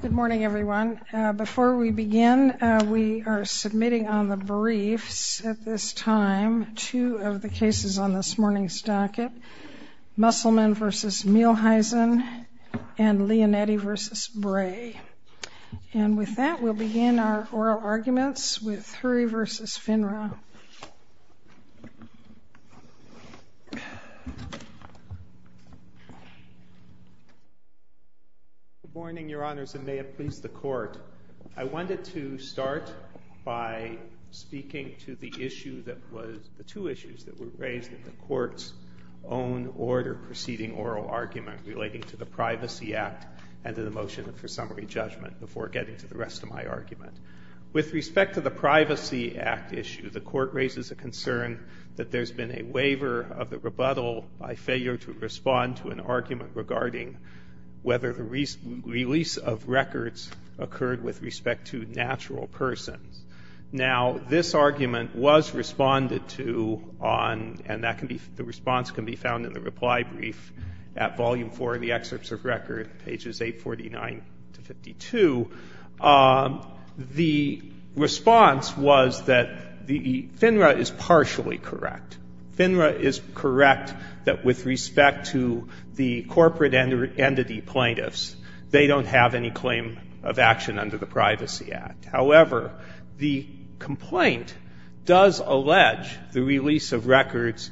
Good morning, everyone. Before we begin, we are submitting on the briefs at this time two of the cases on this morning's docket, Musselman v. Mielheisen and Leonetti v. Bray. And with that, we'll begin our oral arguments with Hurry v. FINRA. HURRY V. FINRA Good morning, Your Honors, and may it please the Court. I wanted to start by speaking to the issue that was—the two issues that were raised in the Court's own order preceding oral argument relating to the Privacy Act and to the motion for summary judgment before getting to the rest of my argument. With respect to the Privacy Act issue, the Court raises a concern that there's been a waiver of the rebuttal by failure to respond to an argument regarding whether the release of records occurred with respect to natural persons. Now, this argument was responded to on—and that can be—the response can be found in the reply brief at Volume 4 of the Excerpts of Record, pages 849 to 52. The response was that the FINRA is partially correct. FINRA is correct that with respect to the corporate entity plaintiffs, they don't have any claim of action under the Privacy Act. However, the complaint does allege the release of records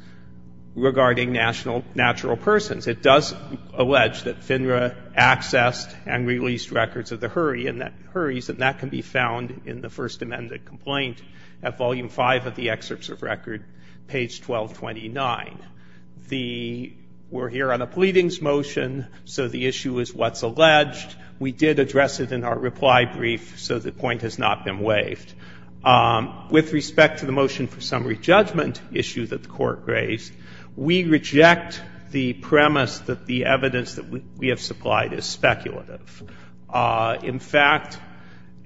regarding national—natural persons. It does allege that FINRA accessed and released records of the hurry, and that hurries, and that can be found in the First Amendment complaint at Volume 5 of the Excerpts of Record, page 1229. The—we're here on a pleadings motion, so the issue is what's alleged. We did address it in our reply brief, so the point has not been waived. With respect to the motion for summary judgment issue that the Court raised, we reject the premise that the evidence that we have supplied is speculative. In fact,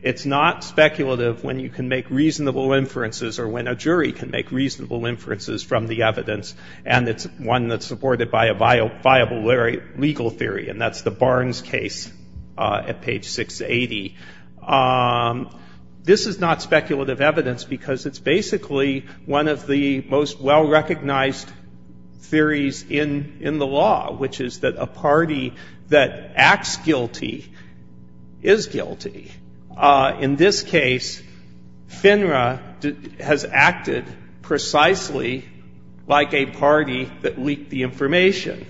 it's not speculative when you can make reasonable inferences or when a jury can make reasonable inferences from the evidence, and it's one that's supported by a viable legal theory, and that's the Barnes case at page 680. This is not speculative evidence because it's basically one of the most well-recognized theories in—in the law, which is that a party that acts guilty is guilty. In this case, FINRA has acted precisely like a party that leaked the information.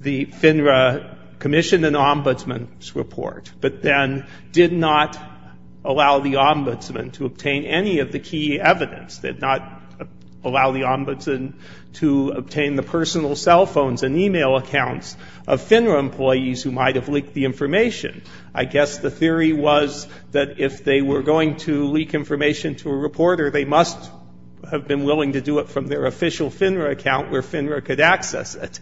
The FINRA Commission obtained an ombudsman's report, but then did not allow the ombudsman to obtain any of the key evidence, did not allow the ombudsman to obtain the personal cell phones and e-mail accounts of FINRA employees who might have leaked the information. I guess the theory was that if they were going to leak information to a reporter, they must have been willing to do it from their official FINRA account where FINRA could access it.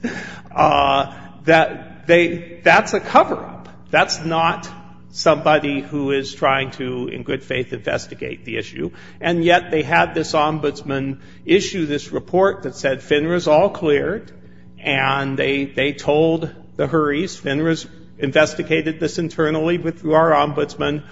That they—that's a cover-up. That's not somebody who is trying to, in good faith, investigate the issue. And yet they had this ombudsman issue this report that said FINRA is all cleared, and they—they told the Hurries, FINRA's investigated this internally with our ombudsman,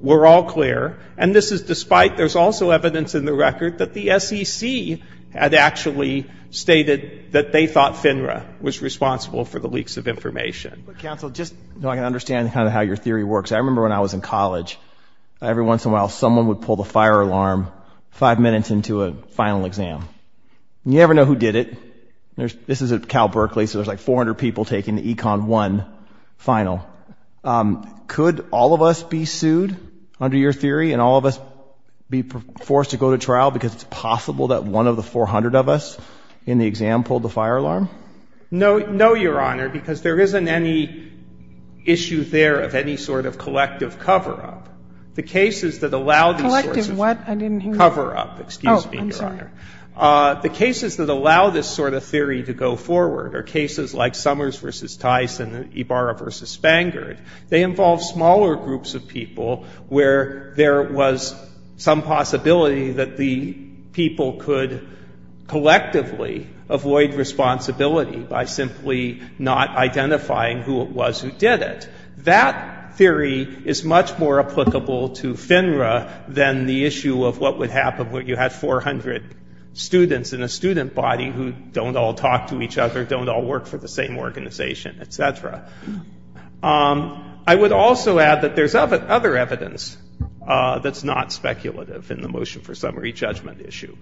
we're all clear. And this is despite—there's also evidence in the record that the SEC had actually stated that they thought FINRA was responsible for the leaks of information. But counsel, just so I can understand kind of how your theory works, I remember when I was in college, every once in a while someone would pull the fire alarm five minutes into a final exam. You never know who did it. This is at Cal Berkeley, so there's like 400 people taking the Econ 1 final. Could all of us be sued under your theory, and all of us be forced to go to trial because it's possible that one of the 400 of us in the exam pulled the fire alarm? No. No, Your Honor, because there isn't any issue there of any sort of collective cover-up. The cases that allow these sorts of— Collective what? I didn't hear you. Cover-up. Excuse me, Your Honor. Oh, I'm sorry. The cases that allow this sort of theory to go forward are cases like Summers v. Tyson and Ibarra v. Spangard. They involve smaller groups of people where there was some possibility that the people could collectively avoid responsibility by simply not identifying who it was who did it. That theory is much more applicable to FINRA than the issue of what would happen when you had 400 students in a student body who don't all talk to each other, don't all work for the same organization, et cetera. I would also add that there's other evidence that's not speculative in the motion for summary judgment issue.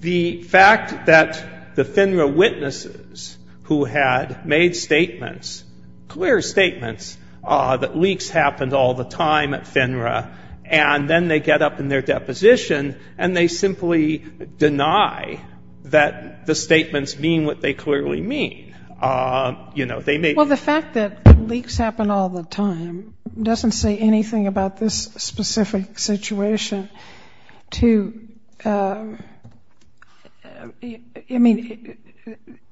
The fact that the FINRA witnesses who had made statements, clear statements, that leaks happened all the time at FINRA, and then they get up in their deposition and they simply deny that the statements mean what they clearly mean. You know, they may— Well, the fact that leaks happen all the time doesn't say anything about this specific situation to—I mean,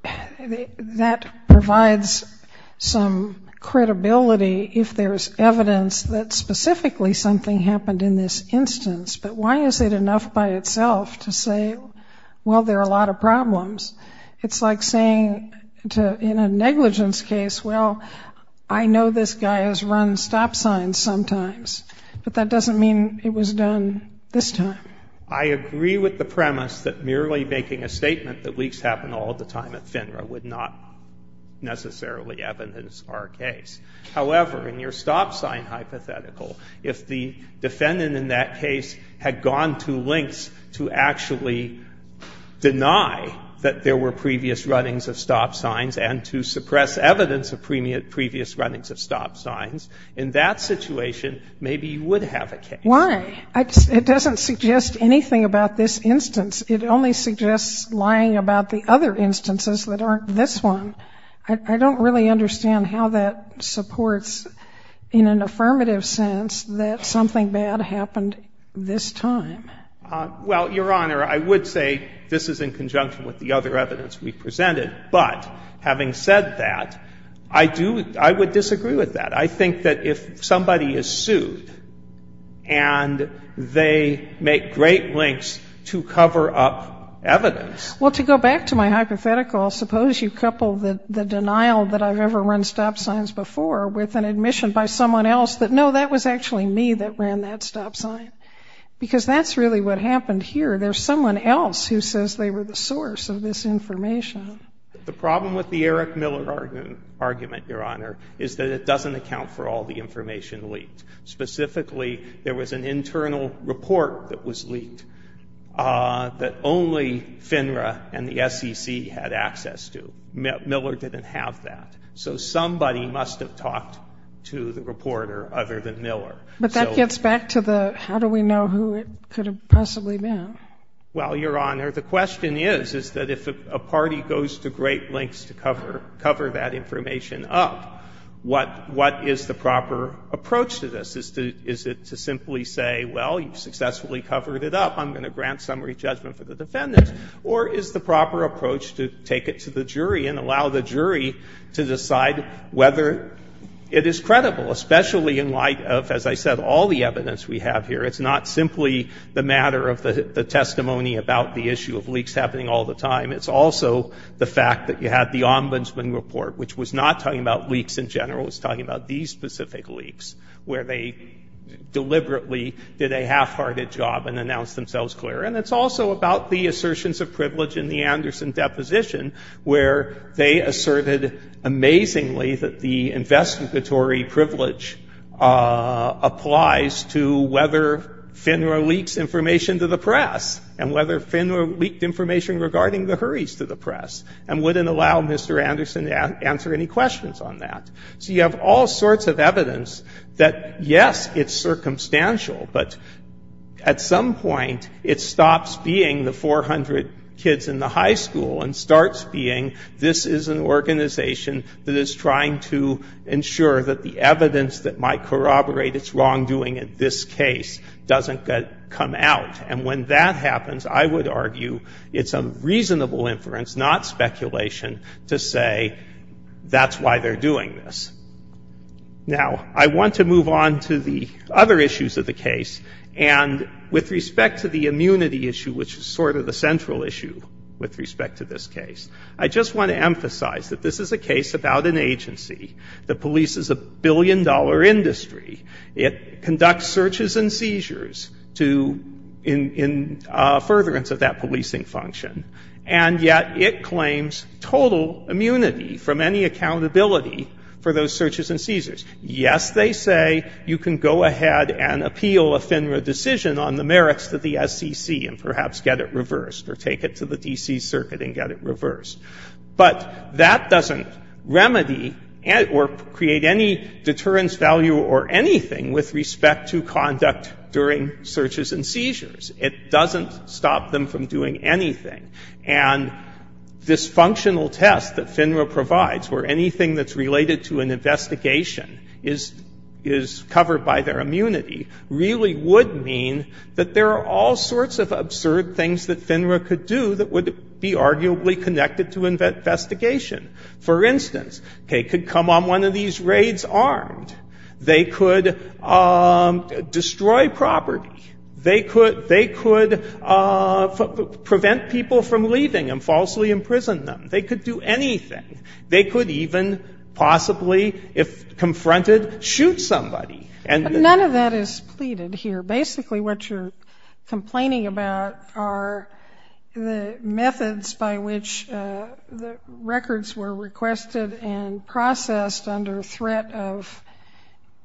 that provides some credibility if there's evidence that specifically something happened in this instance, but why is it enough by itself to say, well, there are a lot of problems? It's like saying in a negligence case, well, I know this guy has run stop signs sometimes, but that doesn't mean it was done this time. I agree with the premise that merely making a statement that leaks happen all the time at FINRA would not necessarily evidence our case. However, in your stop sign hypothetical, if the defendant in that case had gone to lengths to actually deny that there were previous runnings of stop signs and to suppress evidence of previous runnings of stop signs, in that situation, maybe you would have a case. Why? It doesn't suggest anything about this instance. It only suggests lying about the other instances that aren't this one. I don't really understand how that supports, in an instance, that something bad happened this time. Well, Your Honor, I would say this is in conjunction with the other evidence we presented, but having said that, I do — I would disagree with that. I think that if somebody is sued and they make great lengths to cover up evidence — Well, to go back to my hypothetical, suppose you couple the denial that I've ever run stop signs before with an admission by someone else that, no, that was actually me that ran that stop sign, because that's really what happened here. There's someone else who says they were the source of this information. The problem with the Eric Miller argument, Your Honor, is that it doesn't account for all the information leaked. Specifically, there was an internal report that was leaked that only FINRA and the SEC had access to. Miller didn't have that. So somebody must have talked to the reporter other than Miller. But that gets back to the how do we know who it could have possibly been. Well, Your Honor, the question is, is that if a party goes to great lengths to cover that information up, what is the proper approach to this? Is it to simply say, well, you've successfully covered it up. I'm going to grant summary judgment for the defendant. Or is the proper approach to take it to the jury and allow the jury to decide whether it is credible, especially in light of, as I said, all the evidence we have here? It's not simply the matter of the testimony about the issue of leaks happening all the time. It's also the fact that you had the Ombudsman report, which was not talking about leaks in general. It was talking about these specific leaks, where they deliberately — did a half-hearted job and announced themselves clear. And it's also about the assertions of privilege in the Anderson deposition, where they asserted amazingly that the investigatory privilege applies to whether FINRA leaks information to the press, and whether FINRA leaked information regarding the hurries to the press, and wouldn't allow Mr. Anderson to answer any questions on that. So you have all sorts of evidence that, yes, it's circumstantial, but at some point it stops being the 400 kids in the high school and starts being, this is an organization that is trying to ensure that the evidence that might corroborate its wrongdoing in this case doesn't come out. And when that happens, I would argue it's a reasonable inference, not speculation, to say that's why they're doing this. Now, I want to move on to the other issues of the case. And with respect to the immunity issue, which is sort of the central issue with respect to this case, I just want to emphasize that this is a case about an agency. The police is a billion-dollar industry. It conducts searches and seizures to — in furtherance of that policing function. And yet it claims total immunity from any accountability for those searches and seizures. Yes, they say you can go ahead and appeal a FINRA decision on the merits to the SEC and perhaps get it reversed, or take it to the D.C. Circuit and get it reversed. But that doesn't remedy or create any deterrence value or anything with respect to conduct during searches and seizures. It doesn't stop them from doing anything. And this functional test that FINRA provides, where anything that's related to an investigation is covered by their immunity, really would mean that there are all sorts of absurd things that FINRA could do that would be arguably connected to investigation. For instance, they could come on one of these raids armed. They could destroy property. They could — they could prevent people from leaving and falsely imprison them. They could do anything. They could even possibly, if confronted, shoot somebody. And — But none of that is pleaded here. Basically, what you're complaining about are the methods by which the records were requested and processed under threat of,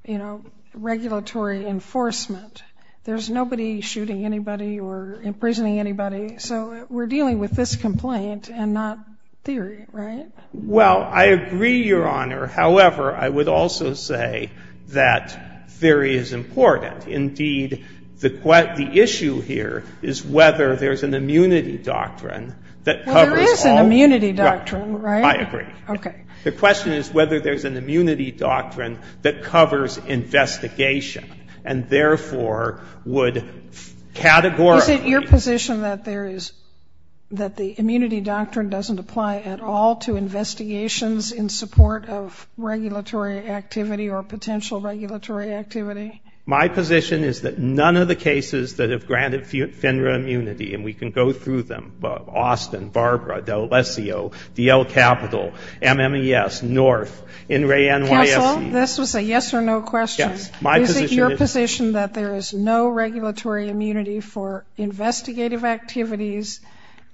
you know, regulatory enforcement. There's nobody shooting anybody or imprisoning anybody. So we're dealing with this complaint and not theory, right? Well, I agree, Your Honor. However, I would also say that theory is important. Indeed, the issue here is whether there's an immunity doctrine that covers all — Well, there is an immunity doctrine, right? I agree. Okay. The question is whether there's an immunity doctrine that covers investigation and therefore would categorically — Is it your position that there is — that the immunity doctrine doesn't apply at all to investigations in support of regulatory activity or potential regulatory activity? My position is that none of the cases that have granted FINRA immunity — and we can go through them — Austin, Barbara, D'Alessio, D.L. Capital, MMES, North, In re NYSC — Counsel, this was a yes or no question. Yes. My position is — Is it your position that there is no regulatory immunity for investigative activities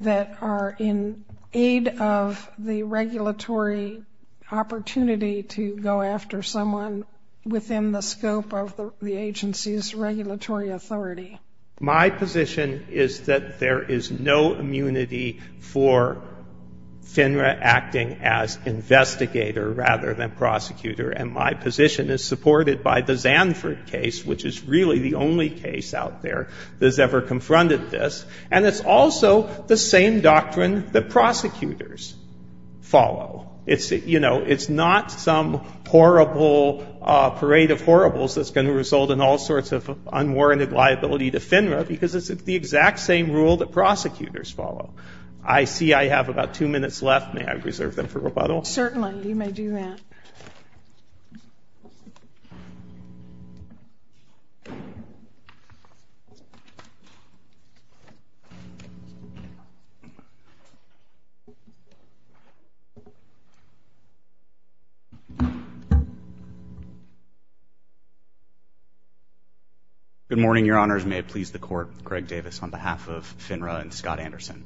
that are in aid of the regulatory opportunity to go after someone within the scope of the regulatory — the agency's regulatory authority? My position is that there is no immunity for FINRA acting as investigator rather than prosecutor. And my position is supported by the Zanford case, which is really the only case out there that has ever confronted this. And it's also the same doctrine that prosecutors follow. It's — you know, it's not some horrible — parade of horribles that's going to result in all sorts of unwarranted liability to FINRA because it's the exact same rule that prosecutors follow. I see I have about two minutes left. May I reserve them for rebuttal? Certainly. You may do that. Good morning, Your Honors. May it please the Court, Greg Davis, on behalf of FINRA and Scott Anderson.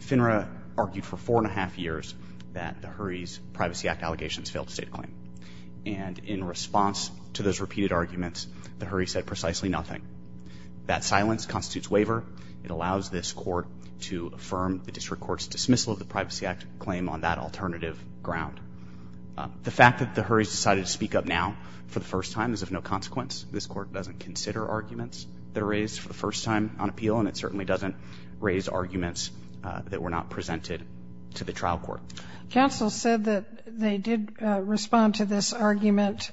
FINRA argued for four and a half years that the Hurry's Privacy Act allegations failed to state a claim. And in response to those repeated arguments, the Hurry said precisely nothing. That silence constitutes waiver. It allows this Court to reject a claim on that alternative ground. The fact that the Hurry's decided to speak up now for the first time is of no consequence. This Court doesn't consider arguments that are raised for the first time on appeal, and it certainly doesn't raise arguments that were not presented to the trial court. Counsel said that they did respond to this argument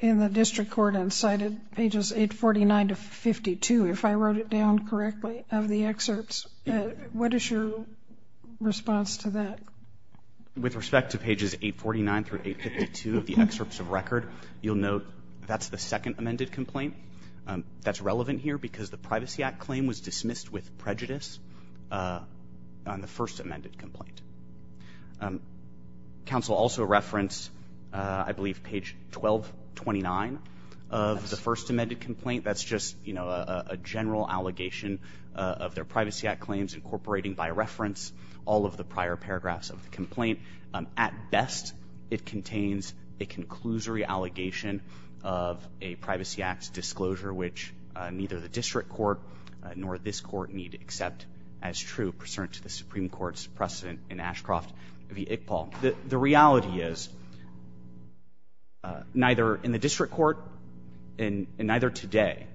in the district court and cited pages 849 to 52, if I wrote it down correctly, of the excerpts. What is your response to that? With respect to pages 849 through 852 of the excerpts of record, you'll note that's the second amended complaint. That's relevant here because the Privacy Act claim was dismissed with prejudice on the first amended complaint. Counsel also referenced, I believe, page 1229 of the first amended complaint. That's just, you know, a general allegation of their Privacy Act claims incorporating, by reference, all of the prior paragraphs of the complaint. At best, it contains a conclusory allegation of a Privacy Act disclosure, which neither the district court nor this Court need accept as true, pursuant to the Supreme Court's precedent in Ashcroft v. Iqbal. The reality is, neither in the district court and neither today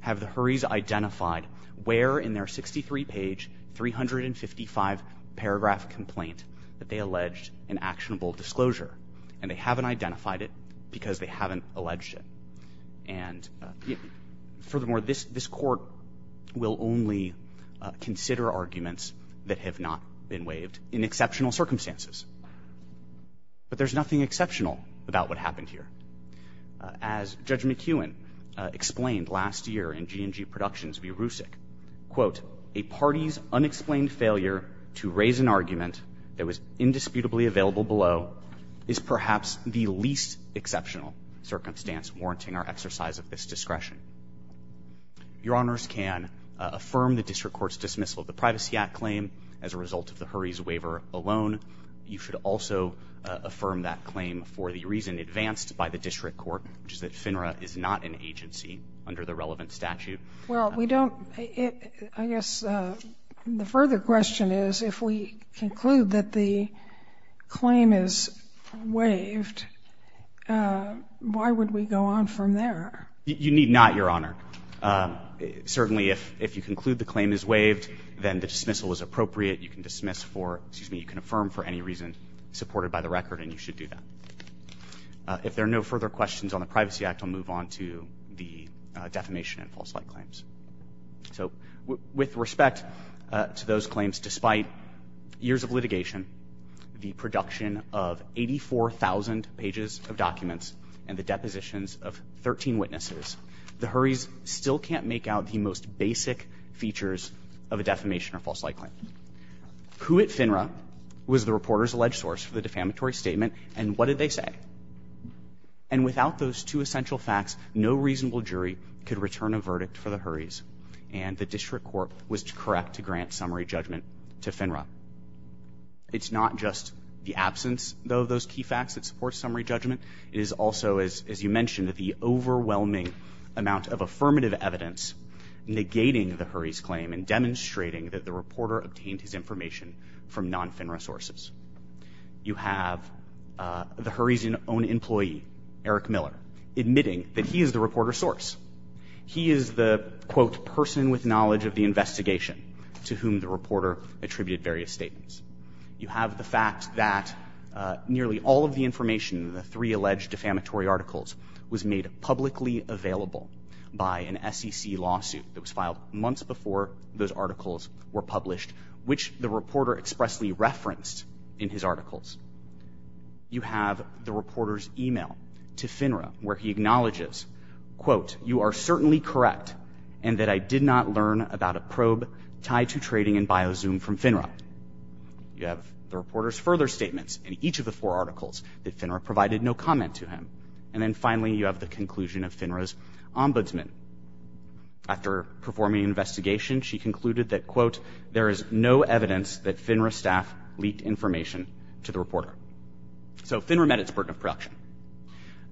have the Hurrys identified where in their 63-page, 355-paragraph complaint that they alleged an actionable disclosure, and they haven't identified it because they haven't alleged it. And furthermore, this Court will only consider arguments that have not been waived in exceptional circumstances. But there's nothing exceptional about what happened here. As Judge McEwen explained last year in G&G Productions v. Rusick, quote, a party's unexplained failure to raise an argument that was indisputably available below is perhaps the least exceptional circumstance warranting our exercise of this discretion. Your Honors can affirm the district court's dismissal of the Privacy Act claim as a result of the Hurrys waiver alone. You should also affirm that claim for the reason advanced by the district court, which is that FINRA is not an agency under the relevant statute. Well, we don't – I guess the further question is, if we conclude that the claim is waived, why would we go on from there? You need not, Your Honor. Certainly, if you conclude the claim is waived, then the dismissal is appropriate. You can dismiss for – excuse me, you can affirm for any reason supported by the record, and you should do that. If there are no further questions on the Privacy Act, I'll move on to the defamation and false light claims. So with respect to those claims, despite years of litigation, the production of 84,000 pages of documents, and the depositions of 13 witnesses, the Hurrys still can't make out the most basic features of a defamation or false light claim. Who at FINRA was the reporter's alleged source for the defamatory statement, and what did they say? And without those two essential facts, no reasonable jury could return a verdict for the Hurrys, and the district court was correct to grant summary judgment to FINRA. It's not just the absence, though, of those key facts that support summary judgment. It is also, as you mentioned, the overwhelming amount of affirmative evidence negating the Hurrys' claim and demonstrating that the reporter obtained his information from non-FINRA sources. You have the Hurrys' own employee, Eric Miller, admitting that he is the reporter's source. He is the, quote, person with knowledge of the investigation to whom the reporter attributed various statements. You have the fact that nearly all of the information in the three alleged defamatory articles was made publicly available by an SEC lawsuit that was filed months before those articles were published, which the reporter expressly referenced in his articles. You have the reporter's e-mail to FINRA, where he acknowledges, quote, you are certainly correct in that I did not learn about a probe tied to trading in Biozoom from FINRA. You have the reporter's further statements in each of the four articles that FINRA provided no comment to him. And then finally, you have the conclusion of FINRA's ombudsman. After performing an investigation, he concluded that, quote, there is no evidence that FINRA staff leaked information to the reporter. So FINRA met its burden of production.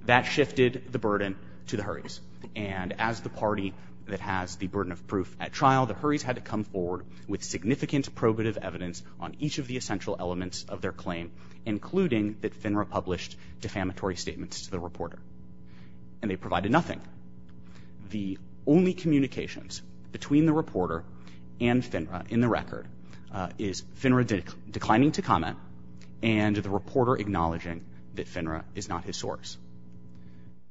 That shifted the burden to the Hurrys. And as the party that has the burden of proof at trial, the Hurrys had to come forward with significant probative evidence on each of the essential elements of their claim, including that FINRA published defamatory statements to the reporter. And they provided nothing. The only communications between the reporter and FINRA in the record is FINRA declining to comment and the reporter acknowledging that FINRA is not his source.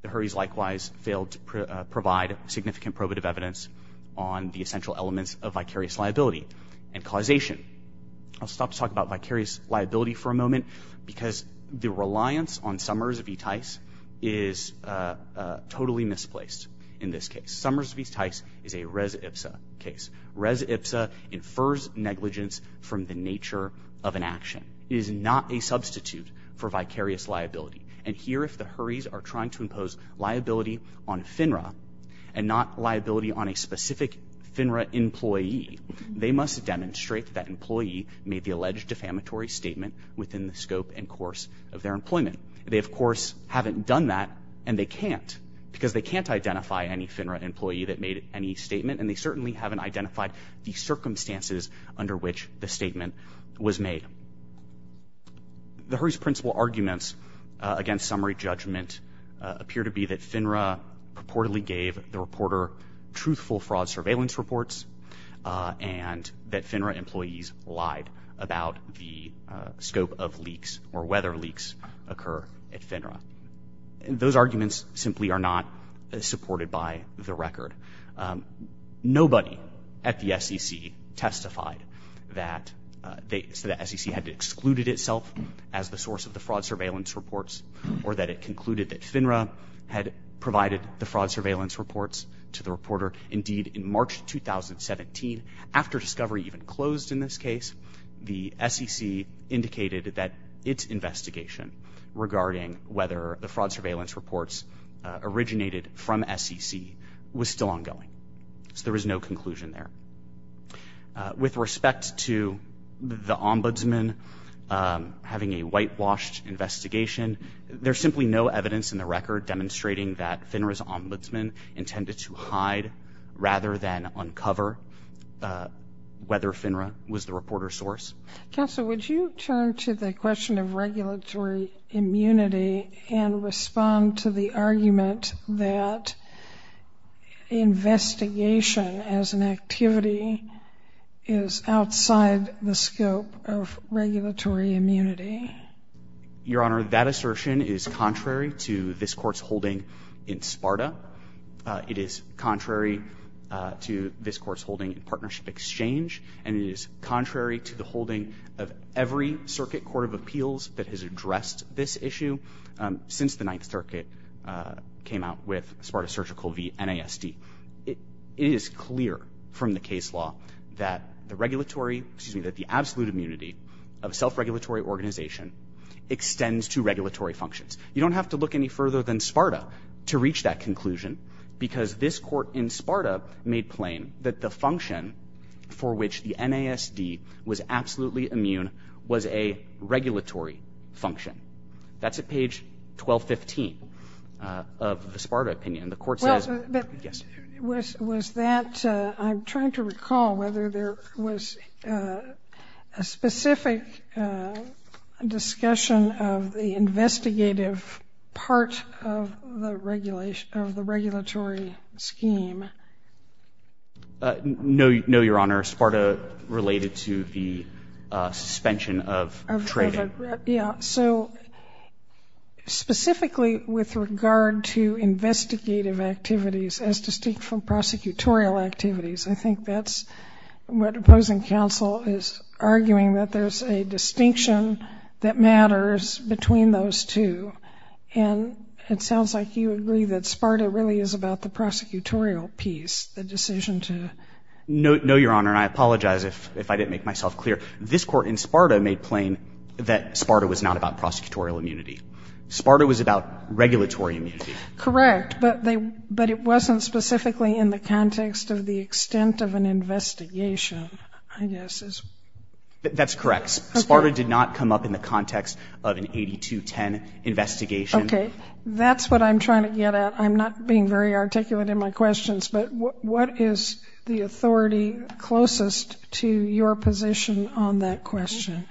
The Hurrys likewise failed to provide significant probative evidence on the essential elements of vicarious liability and causation. I'll stop to talk about vicarious liability for a moment because the reliance on Summers v. Tice is totally misplaced in this case. Summers v. Tice is a res ipsa case. Res ipsa infers negligence from the nature of an action. It is not a substitute for vicarious liability. And here, if the Hurrys are trying to impose liability on FINRA and not liability on a specific FINRA employee, they must demonstrate that that employee made the alleged defamatory statement within the scope and course of their employment. They, of course, haven't done that and they can't because they can't identify any FINRA employee that made any statement and they certainly haven't identified the circumstances under which the statement was made. The Hurrys' principal arguments against summary judgment appear to be that FINRA purportedly gave the reporter truthful fraud surveillance reports and that FINRA employees lied about the scope of leaks or whether leaks occur at FINRA. Those arguments simply are not supported by the record. Nobody at the SEC testified that the SEC had excluded itself as the source of the fraud surveillance reports or that it concluded that FINRA had provided the fraud surveillance reports to the reporter. Indeed, in March 2017, after discovery even closed in this case, the SEC indicated that its investigation regarding whether the fraud surveillance reports originated from SEC was still ongoing. So there is no conclusion there. With respect to the ombudsman having a whitewashed investigation, there's simply no evidence in the record demonstrating that FINRA's ombudsman intended to hide rather than uncover whether FINRA was the reporter's source. Counsel, would you turn to the question of regulatory immunity and respond to the argument that investigation as an activity is outside the scope of regulatory immunity? Your Honor, that assertion is contrary to this Court's holding in SPARTA. It is contrary to this Court's holding in Partnership Exchange, and it is contrary to the holding of every circuit court of appeals that has addressed this issue since the Ninth Circuit came out with SPARTA Surgical v. NASD. It is clear from the case law that the regulatory, excuse me, that the absolute immunity of self-regulatory organization extends to regulatory functions. You don't have to look any further than SPARTA to reach that conclusion, because this Court in SPARTA made plain that the function for which the NASD was absolutely immune was a regulatory function. That's at page 1215 of the SPARTA opinion. The Court says — Was that — I'm trying to recall whether there was a specific discussion of the investigative part of the regulation — of the regulatory scheme. No, Your Honor. SPARTA related to the suspension of trading. Yeah. So, specifically with regard to investigative activities as distinct from prosecutorial activities, I think that's what opposing counsel is arguing, that there's a distinction that matters between those two. And it sounds like you agree that SPARTA really is about the prosecutorial piece, the decision to — No, Your Honor, and I apologize if I didn't make myself clear. This Court in SPARTA made plain that SPARTA was not about prosecutorial immunity. SPARTA was about regulatory immunity. Correct. But they — but it wasn't specifically in the context of the extent of an investigation, I guess, is — That's correct. Okay. SPARTA did not come up in the context of an 8210 investigation. Okay. That's what I'm trying to get at. I'm not being very articulate in my questions, but what is the authority closest to your position on that question?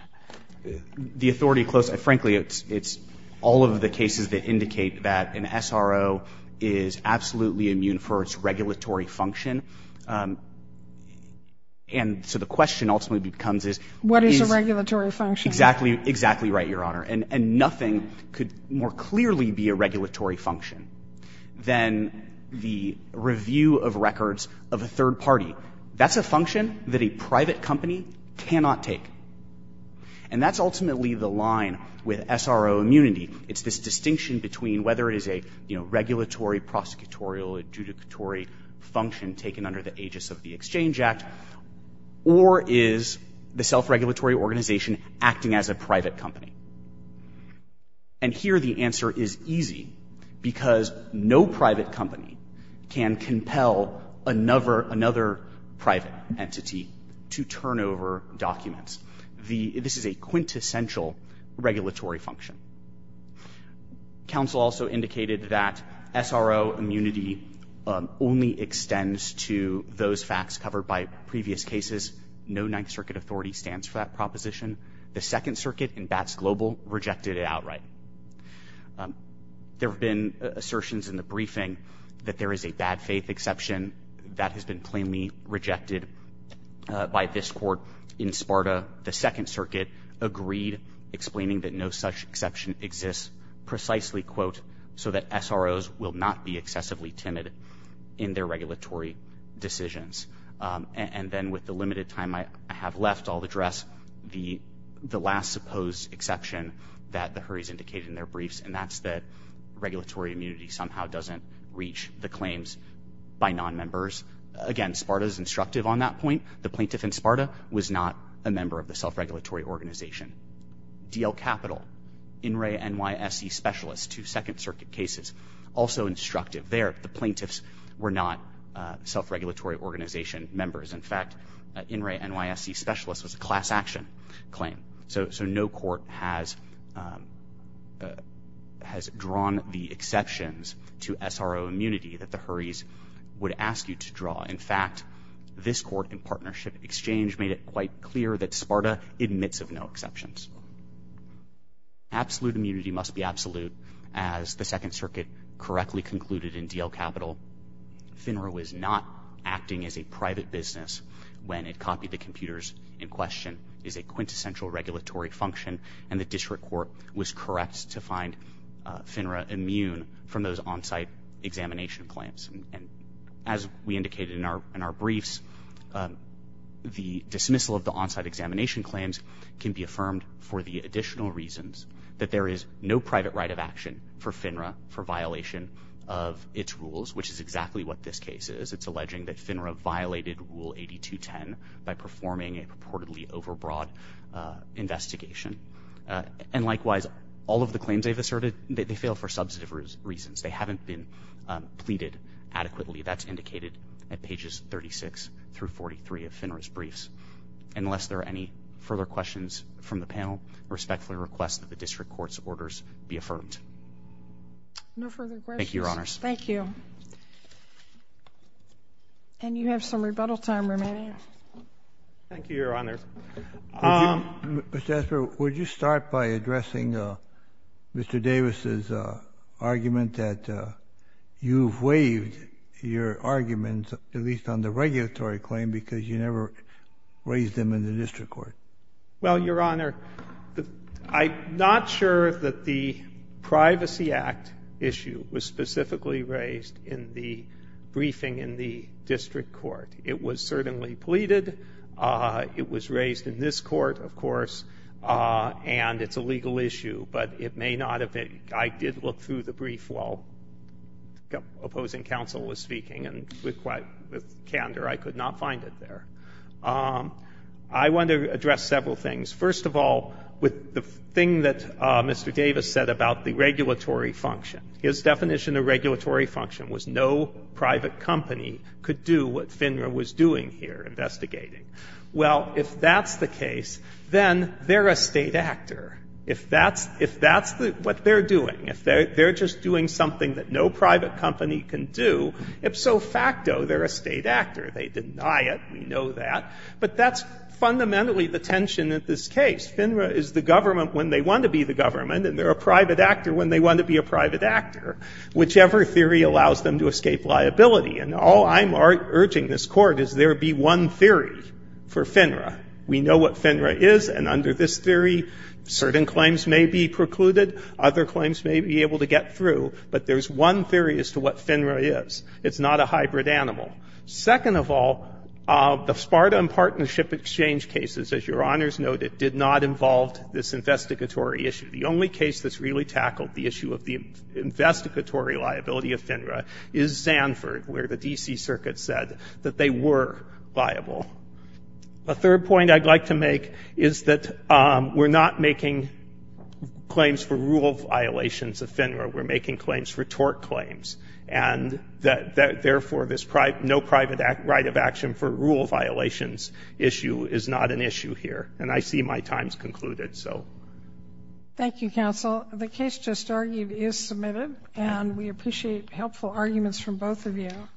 The authority closest — frankly, it's all of the cases that indicate that an SRO is absolutely immune for its regulatory function. And so the question ultimately becomes is — What is a regulatory function? Exactly. Exactly right, Your Honor. And nothing could more clearly be a regulatory function than the review of records of a third party. That's a function that a private company cannot take. And that's ultimately the line with SRO immunity. It's this distinction between whether it is a, you know, regulatory, prosecutorial, adjudicatory function taken under the aegis of the Exchange Act, or is the self-regulatory organization acting as a private company. And here the answer is easy, because no private company can compel another private entity to turn over documents. This is a quintessential regulatory function. Counsel also indicated that SRO immunity only extends to those facts covered by previous cases. No Ninth Circuit authority stands for that proposition. The Second Circuit in Batts-Global rejected it outright. There have been assertions in the briefing that there is a bad faith exception that has been plainly rejected by this Court. In Sparta, the Second Circuit agreed, explaining that no such exception exists precisely, quote, so that SROs will not be excessively timid in their regulatory decisions. And then with the limited time I have left, I'll address the last supposed exception that the Hurries indicated in their briefs, and that's that regulatory immunity somehow doesn't reach the claims by non-members. Again, Sparta is instructive on that point. The plaintiff in Sparta was not a member of the self-regulatory organization. D.L. Capital, In re NYSE specialist to Second Circuit cases, also instructive there. The plaintiffs were not self-regulatory organization members. In fact, In re NYSE specialist was a class action claim. So no court has drawn the exceptions to SRO immunity that the Hurries would ask you to draw. In fact, this Court in partnership exchange made it quite clear that Sparta admits of no exceptions. Absolute immunity must be absolute. As the Second Circuit correctly concluded in D.L. Capital, FINRA was not acting as a private business when it copied the computers in question, is a quintessential regulatory function, and the District Court was correct to find FINRA immune from those on-site examination claims. As we indicated in our briefs, the dismissal of the on-site examination claims can be affirmed for the additional reasons that there is no private right of action for FINRA for violation of its rules, which is exactly what this case is. It's alleging that FINRA violated Rule 8210 by performing a purportedly overbroad investigation. And likewise, all of the claims they've asserted, they fail for substantive reasons. They haven't been pleaded adequately. That's indicated at pages 36 through 43 of FINRA's briefs. Unless there are any further questions from the panel, I respectfully request that the District Court's orders be affirmed. No further questions. Thank you, Your Honors. Thank you. And you have some rebuttal time remaining. Thank you, Your Honor. Mr. Esper, would you start by addressing Mr. Davis's argument that you've waived your claim because you never raised them in the District Court? Well, Your Honor, I'm not sure that the Privacy Act issue was specifically raised in the briefing in the District Court. It was certainly pleaded. It was raised in this Court, of course, and it's a legal issue. But it may not have been. I did look through the brief while opposing counsel was speaking and with candor. I could not find it there. I want to address several things. First of all, with the thing that Mr. Davis said about the regulatory function, his definition of regulatory function was no private company could do what FINRA was doing here, investigating. Well, if that's the case, then they're a State actor. If that's what they're doing, if they're just doing something that no private company can do, ipso facto, they're a State actor. They deny it. We know that. But that's fundamentally the tension of this case. FINRA is the government when they want to be the government, and they're a private actor when they want to be a private actor, whichever theory allows them to escape liability. And all I'm urging this Court is there be one theory for FINRA. We know what FINRA is, and under this theory, certain claims may be precluded. Other claims may be able to get through. But there's one theory as to what FINRA is. It's not a hybrid animal. Second of all, the Sparta and Partnership Exchange cases, as Your Honors noted, did not involve this investigatory issue. The only case that's really tackled the issue of the investigatory liability of FINRA is Sanford, where the D.C. Circuit said that they were viable. A third point I'd like to make is that we're not making claims for rule violations of FINRA. We're making claims for tort claims. And therefore, this no private right of action for rule violations issue is not an issue here. And I see my time's concluded. So. Thank you, Counsel. The case just argued is submitted, and we appreciate helpful arguments from both of you.